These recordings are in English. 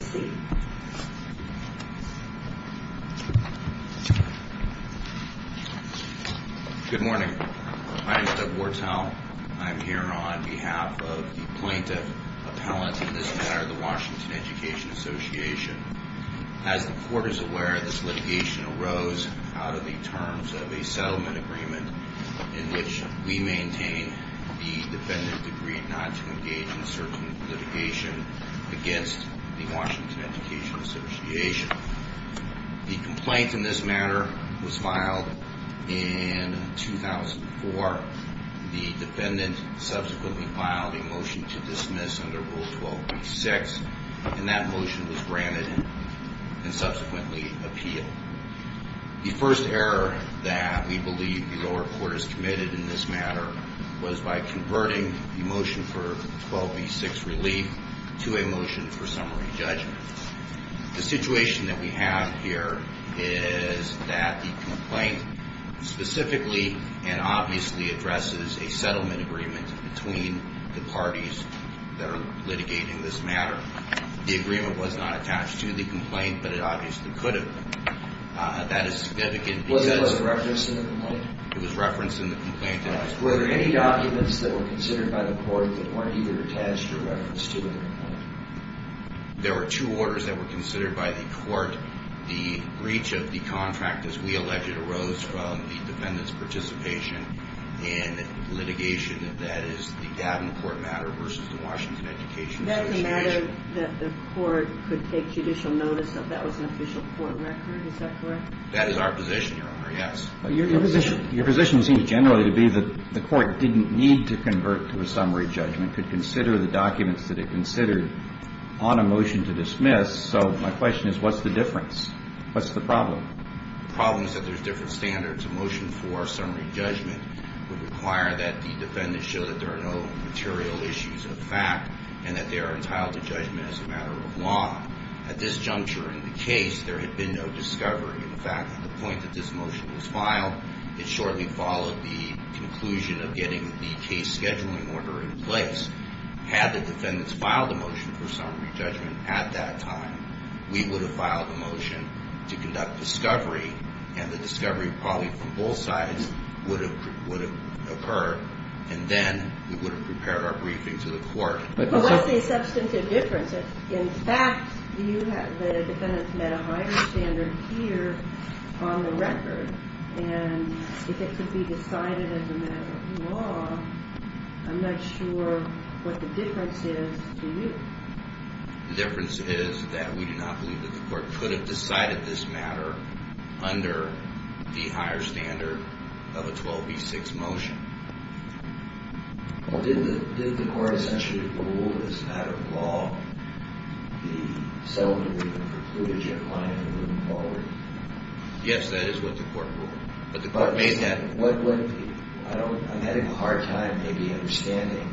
Good morning. My name is Doug Wartell. I'm here on behalf of the Plaintiff Appellant in this matter, the Washington Education Association. As the Court is aware, this litigation arose out of the terms of a settlement agreement in which we maintain the defendant agreed not to engage in certain litigation against the Washington Education Association. The complaint in this matter was filed in 2004. The defendant subsequently filed a motion to dismiss under Rule 12.6, and that motion was granted and subsequently appealed. The first error that we believe the lower court has committed in this matter was by converting the motion for 12.6 relief to a motion for summary judgment. The situation that we have here is that the complaint specifically and obviously addresses a settlement agreement between the parties that are litigating this matter. The agreement was not attached to the complaint, but it obviously could have been. That is significant because it was referenced in the complaint. Were there any documents that were considered by the court that weren't either attached or referenced to the complaint? There were two orders that were considered by the court. The breach of the contract, as we alleged, arose from the defendant's participation in litigation, and that is the Davenport matter versus the Washington Education Association. Is that the matter that the court could take judicial notice of? That was an official court record, is that correct? That is our position, Your Honor, yes. Your position seems generally to be that the court didn't need to convert to a summary judgment, could consider the documents that it considered on a motion to dismiss. So my question is, what's the difference? What's the problem? The problem is that there's different standards. A motion for summary judgment would require that the defendant show that there are no material issues of fact and that they are entitled to judgment as a matter of law. At this juncture in the case, there had been no discovery. In fact, at the point that this motion was filed, it shortly followed the conclusion of getting the case scheduling order in place. Had the defendants filed a motion for summary judgment at that time, we would have filed a motion to conduct discovery, and the discovery probably from both sides would have occurred, and then we would have prepared our briefing to the court. But what's the substantive difference? In fact, you have the defendant's met a higher standard here on the record, and if it could be decided as a matter of law, I'm not sure what the difference is to you. The difference is that we do not believe that the court could have decided this matter under the higher standard of a 12b-6 motion. Well, did the court essentially rule as a matter of law the settlement agreement for Kludage and Kline in the room quality? Yes, that is what the court ruled. I'm having a hard time maybe understanding.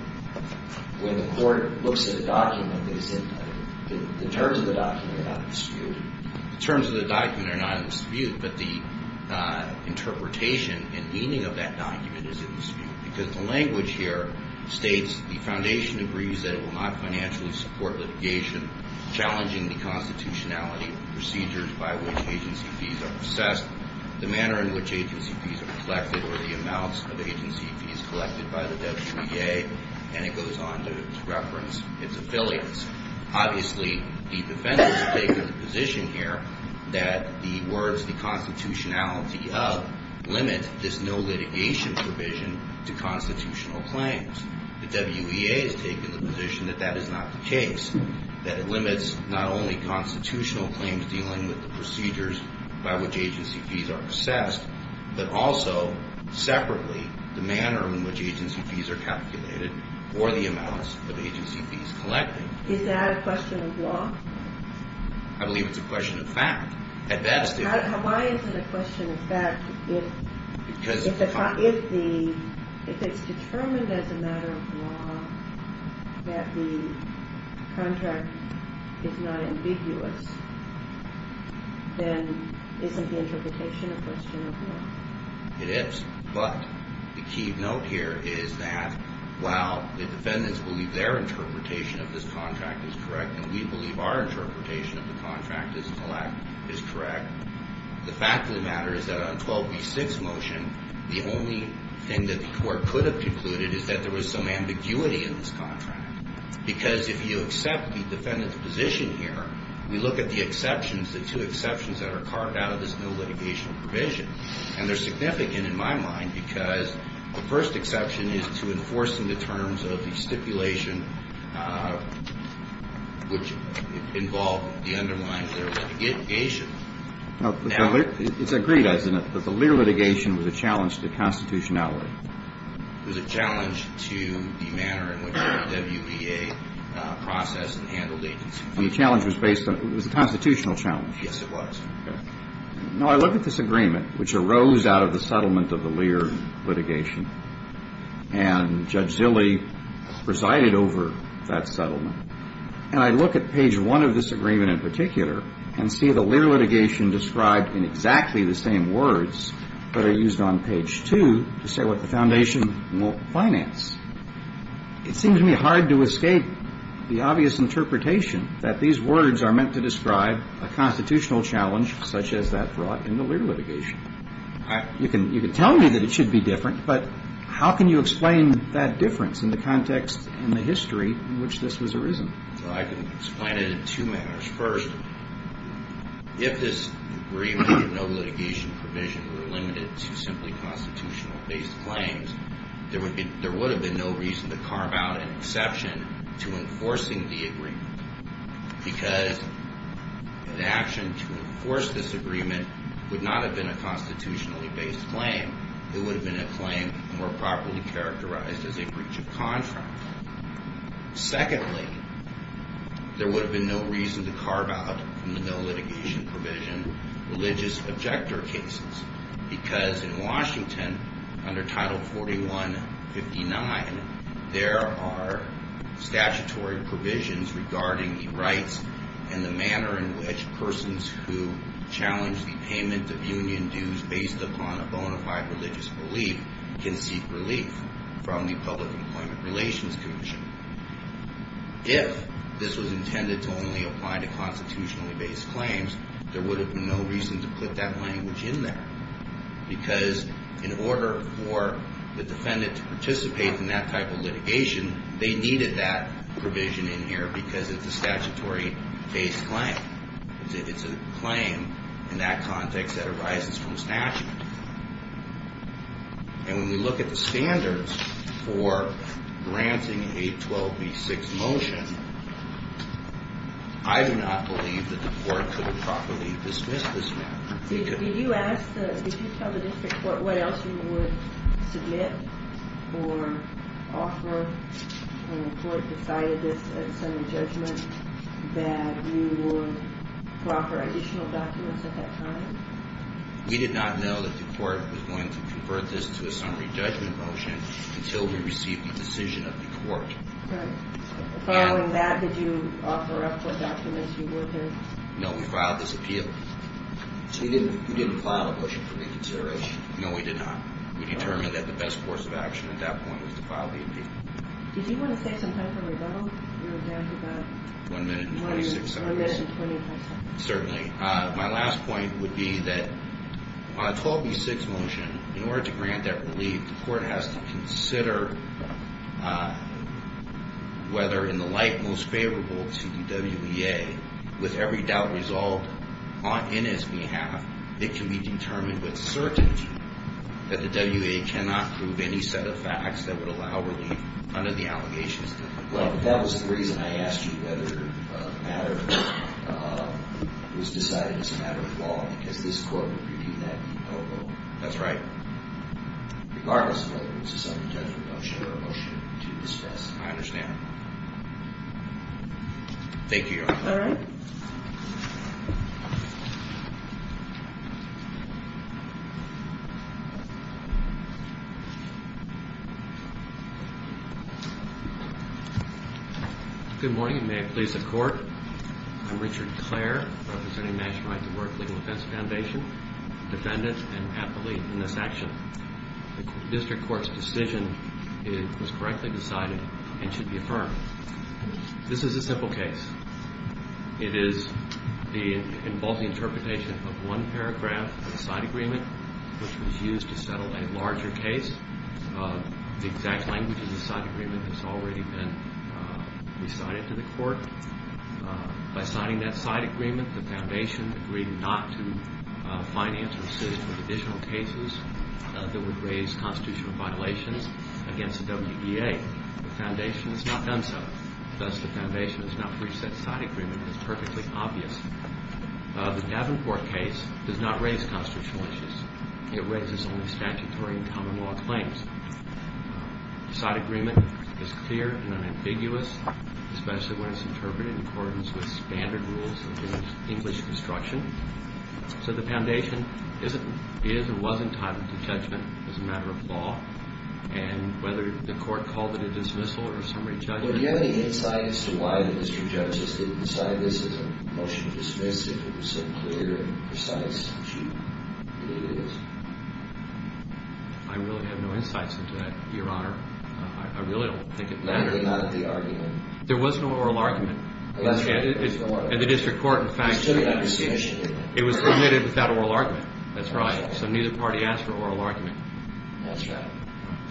When the court looks at a document, the terms of the document are not in dispute. The terms of the document are not in dispute, but the interpretation and meaning of that document is in dispute, because the language here states the foundation agrees that it will not financially support litigation challenging the constitutionality of the procedures by which agency fees are assessed, the manner in which agency fees are collected, or the amounts of agency fees collected by the WTA, and it goes on to reference its affiliates. Obviously, the defendants take the position here that the words, the constitutionality of, limit this no litigation provision to constitutional claims. The WEA has taken the position that that is not the case, that it limits not only constitutional claims dealing with the procedures by which agency fees are assessed, but also, separately, the manner in which agency fees are calculated, or the amounts of agency fees collected. Is that a question of law? I believe it's a question of fact. At best, it is. Why is it a question of fact if it's determined as a matter of law that the contract is not ambiguous, then isn't the interpretation a question of law? It is, but the key note here is that while the defendants believe their interpretation of this contract is correct, and we believe our interpretation of the contract is correct, the fact of the matter is that on 12B6 motion, the only thing that the court could have concluded is that there was some ambiguity in this contract, because if you accept the defendants' position here, we look at the exceptions, the two exceptions that are carved out of this no litigation provision, and they're significant in my mind, because the first exception is to enforce in the terms of the stipulation which involved the underlying litigation. It's agreed, isn't it, that the Lear litigation was a challenge to constitutionality? It was a challenge to the manner in which the WBA processed and handled agency fees. And the challenge was based on, it was a constitutional challenge. Yes, it was. Now, I look at this agreement, which arose out of the settlement of the Lear litigation, and Judge Zille presided over that settlement, and I look at page one of this agreement in particular, and see the Lear litigation described in exactly the same words, but are used on page two to say what the foundation won't finance. It seems to me hard to escape the obvious interpretation that these words are meant to describe a constitutional challenge such as that brought in the Lear litigation. You can tell me that it should be different, but how can you explain that difference in the context and the history in which this was arisen? Well, I can explain it in two manners. First, if this agreement and no litigation provision were limited to simply constitutional-based claims, there would have been no reason to carve out an exception to enforcing the agreement, because an action to enforce this agreement would not have been a constitutionally-based claim. It would have been a claim more properly characterized as a breach of contract. Secondly, there would have been no reason to carve out from the no litigation provision religious objector cases, because in Washington, under Title 4159, there are statutory provisions regarding the rights and the manner in which persons who challenge the payment of union dues based upon a bona fide religious belief can seek relief from the Public Employment Relations Commission. If this was intended to only apply to constitutionally-based claims, there would have been no reason to put that language in there, because in order for the defendant to participate in that type of litigation, they needed that provision in here because it's a statutory-based claim. It's a claim in that context that arises from statute. And when we look at the standards for granting a 12B6 motion, I do not believe that the court could have properly dismissed this matter. Did you tell the district what else you would submit or offer when the court decided this at Senate Judgment that you would offer additional documents at that time? We did not know that the court was going to convert this to a summary judgment motion until we received the decision of the court. Following that, did you offer up what documents you were going to? No, we filed this appeal. So you didn't file a motion for reconsideration? No, we did not. We determined that the best course of action at that point was to file the appeal. Did you want to say something for the rebuttal? One minute and 26 seconds. One minute and 25 seconds. Certainly. My last point would be that on a 12B6 motion, in order to grant that relief, the court has to consider whether, in the light most favorable to the WEA, with every doubt resolved on NSB's behalf, it can be determined with certainty that the WEA cannot prove any set of facts that would allow relief under the allegations. That was the reason I asked you whether it was decided as a matter of law because this court would review that. That's right. Regardless of whether it's a summary judgment, I'll share a motion to dismiss. I understand. Thank you, Your Honor. All right. Good morning, and may it please the Court. I'm Richard Clare, representing National Rights at Work Legal Defense Foundation, defendant and athlete in this action. The district court's decision was correctly decided and should be affirmed. This is a simple case. It involves the interpretation of one paragraph of a side agreement which was used to settle a larger case. The exact language of the side agreement has already been recited to the Court. By signing that side agreement, the Foundation agreed not to finance or assist with additional cases that would raise constitutional violations against the WEA. The Foundation has not done so. Thus, the Foundation has not reached that side agreement. It's perfectly obvious. The Davenport case does not raise constitutional issues. It raises only statutory and common law claims. The side agreement is clear and unambiguous, especially when it's interpreted in accordance with standard rules of English construction. So the Foundation is or was entitled to judgment as a matter of law. And whether the Court called it a dismissal or a summary judgment... Well, do you have any insight as to why the district judges didn't decide this is a motion to dismiss if it was so clear and precise as you believe it is? I really have no insights into that, Your Honor. I really don't think it mattered. Not at the argument? There was no oral argument. At the district court, in fact. It was submitted without oral argument. That's right. So neither party asked for oral argument. That's right.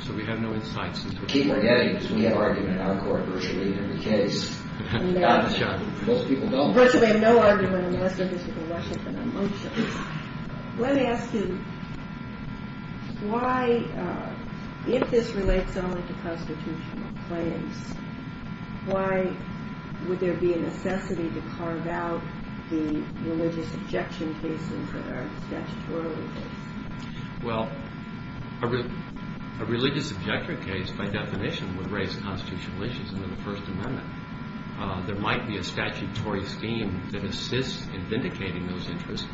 So we have no insights. Keep forgetting, because we have argument in our court virtually every case. Most people don't. Virtually no argument unless there has been a motion. Let me ask you, if this relates only to constitutional claims, why would there be a necessity to carve out the religious objection cases that are statutorily cases? Well, a religious objection case, by definition, would raise constitutional issues under the First Amendment. There might be a statutory scheme that assists in vindicating those interests,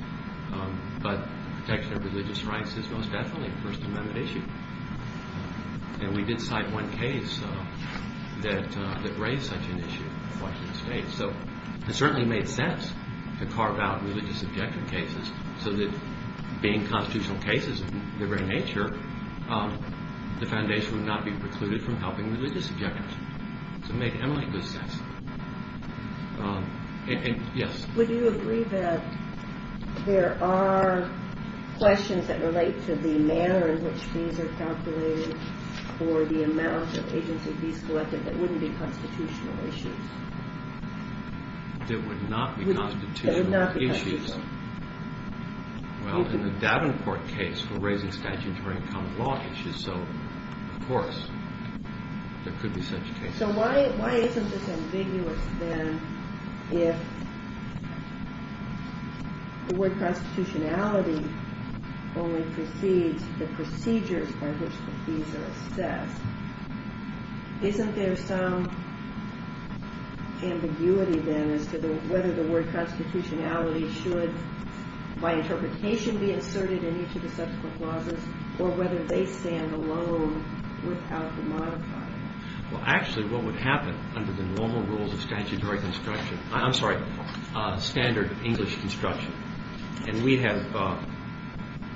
but protection of religious rights is most definitely a First Amendment issue. And we did cite one case that raised such an issue in Washington State. So it certainly made sense to carve out religious objection cases so that being constitutional cases in their very nature, the Foundation would not be precluded from helping religious objectors. So it made eminently good sense. Yes? Would you agree that there are questions that relate to the manner in which these are calculated for the amount of agency fees collected that wouldn't be constitutional issues? That would not be constitutional issues? That would not be constitutional. Well, in the Davenport case for raising statutory and common law issues, so, of course, there could be such cases. So why isn't this ambiguous, then, if the word constitutionality only precedes the procedures by which the fees are assessed? Isn't there some ambiguity, then, as to whether the word constitutionality should, by interpretation, be inserted in each of the subsequent clauses, or whether they stand alone without the modifier? Well, actually, what would happen under the normal rules of statutory construction, I'm sorry, standard English construction, and we have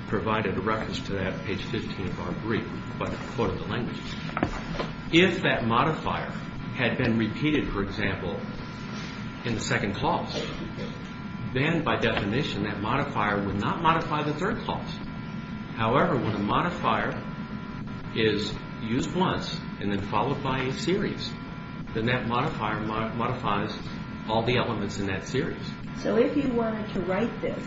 provided a reference to that on page 15 of our brief with a quote of the language. If that modifier had been repeated, for example, in the second clause, then, by definition, that modifier would not modify the third clause. However, when a modifier is used once and then followed by a series, then that modifier modifies all the elements in that series. So if you wanted to write this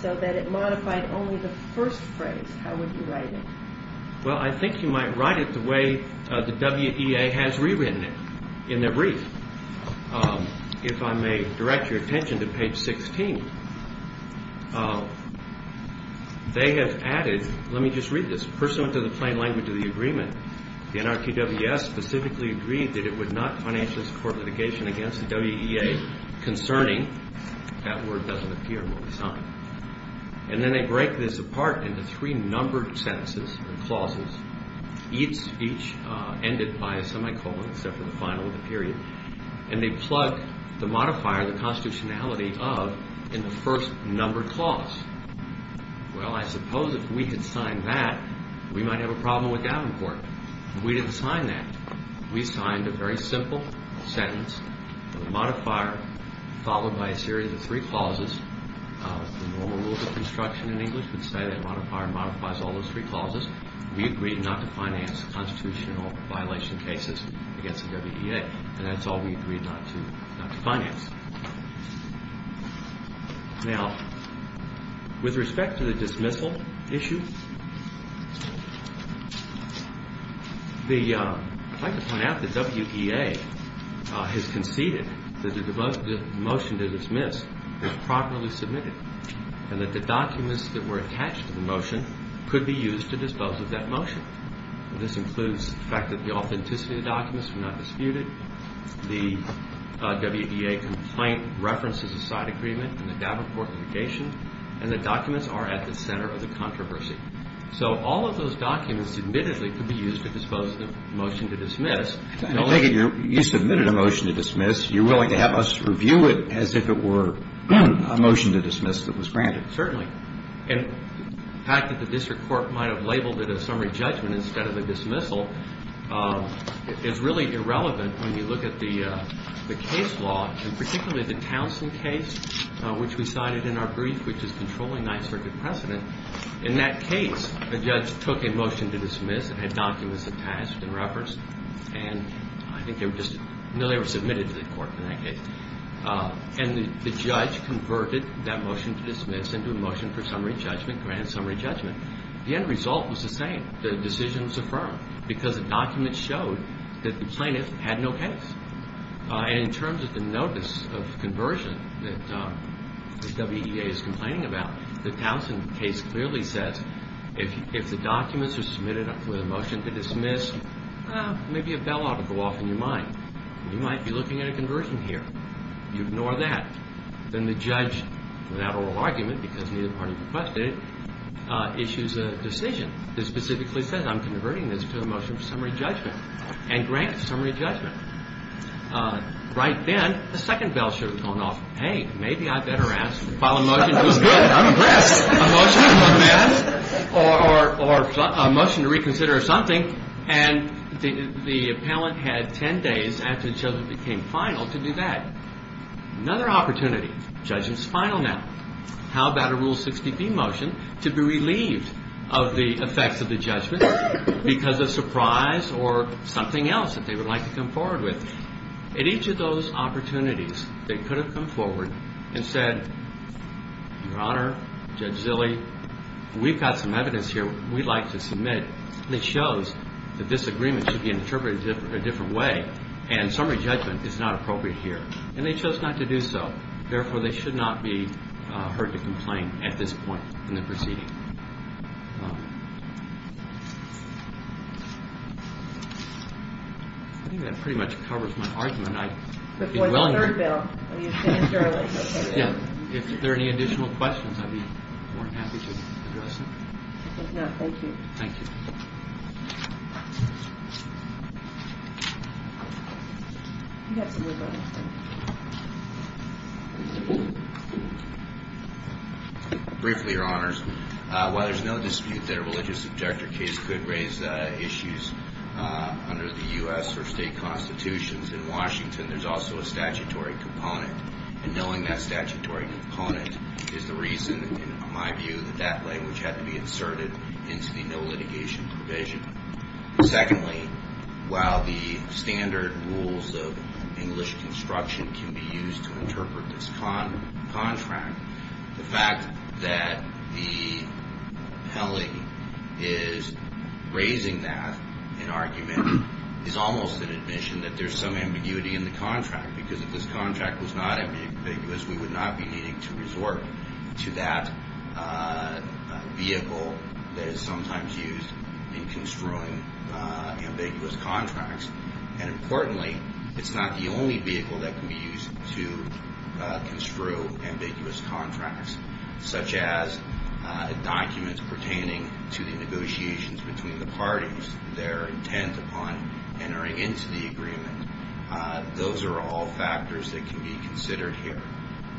so that it modified only the first phrase, how would you write it? Well, I think you might write it the way the WEA has rewritten it in their brief. If I may direct your attention to page 16, they have added, let me just read this, pursuant to the plain language of the agreement, the NRQWS specifically agreed that it would not financially support litigation against the WEA concerning that word doesn't appear when we sign. And then they break this apart into three numbered sentences and clauses, each ended by a semicolon except for the final period. And they plug the modifier, the constitutionality of, in the first numbered clause. Well, I suppose if we had signed that, we might have a problem with Davenport. We didn't sign that. We signed a very simple sentence with a modifier followed by a series of three clauses. The normal rules of construction in English would say that a modifier modifies all those three clauses. We agreed not to finance constitutional violation cases against the WEA. And that's all we agreed not to finance. Now, with respect to the dismissal issue, I'd like to point out that WEA has conceded that the motion to dismiss was properly submitted and that the documents that were attached to the motion could be used to dispose of that motion. This includes the fact that the authenticity of the documents were not disputed, the WEA complaint references a side agreement and the Davenport litigation, and the documents are at the center of the controversy. So all of those documents, admittedly, could be used to dispose of the motion to dismiss. You submitted a motion to dismiss. You're willing to have us review it as if it were a motion to dismiss that was granted. Certainly. The fact that the district court might have labeled it a summary judgment instead of a dismissal is really irrelevant when you look at the case law, and particularly the Townsend case which we cited in our brief which is controlling 9th Circuit precedent. In that case, the judge took a motion to dismiss and had documents attached and referenced and I think they were just submitted to the court in that case. And the judge converted that motion to dismiss into a motion for summary judgment, grand summary judgment. The end result was the same. The decision was affirmed because the documents showed that the plaintiff had no case. And in terms of the notice of conversion that the WEA is complaining about, the Townsend case clearly says if the documents are submitted with a motion to dismiss, maybe a bailout will go off in your mind. You might be looking at a conversion here. You ignore that. Then the judge, without oral argument because neither party requested it, issues a decision that specifically says, I'm converting this to a motion for summary judgment and grants summary judgment. Right then, the second bail should have gone off. Hey, maybe I better ask to file a motion to dismiss. I'm impressed. Or a motion to reconsider or something and the appellant had ten days after the children became final to do that. Another opportunity. The judge is final now. How about a Rule 60B motion to be relieved of the effects of the judgment because of surprise or something else that they would like to come forward with. At each of those opportunities they could have come forward and said Your Honor, Judge Zille, we've got some evidence here we'd like to submit that shows that this agreement should be interpreted a different way and summary judgment is not appropriate here. And they chose not to do so. Therefore, they should not be heard to complain at this point in the proceeding. I think that pretty much covers my argument. I'd be willing to... If there are any additional questions I'd be more than happy to address them. If not, thank you. Thank you. Briefly, Your Honors. While there's no dispute that a religious objector case could raise issues under the U.S. or state constitutions, in Washington there's also a statutory component. And knowing that statutory component is the reason, in my view, that that language had to be inserted into the no litigation provision. Secondly, while the standard rules of English construction can be used to interpret this contract, the fact that the Pele is raising that in argument is almost an admission that there's some ambiguity in the contract. Because if this contract was not ambiguous, we would not be needing to resort to that vehicle that is sometimes used in construing ambiguous contracts. And importantly, it's not the only vehicle that can be used to construe ambiguous contracts. Such as documents pertaining to the negotiations between the parties, their intent upon entering into the agreement. Those are all factors that can be considered here.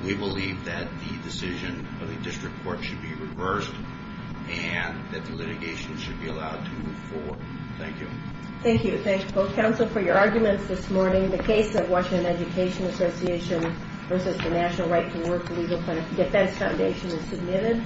We believe that the decision of the district court should be reversed and that the litigation should be allowed to move forward. Thank you. Thank you. Thank you both council for your arguments this morning. The case of Washington Education Association versus the National Right to Work Legal Defense Foundation is submitted.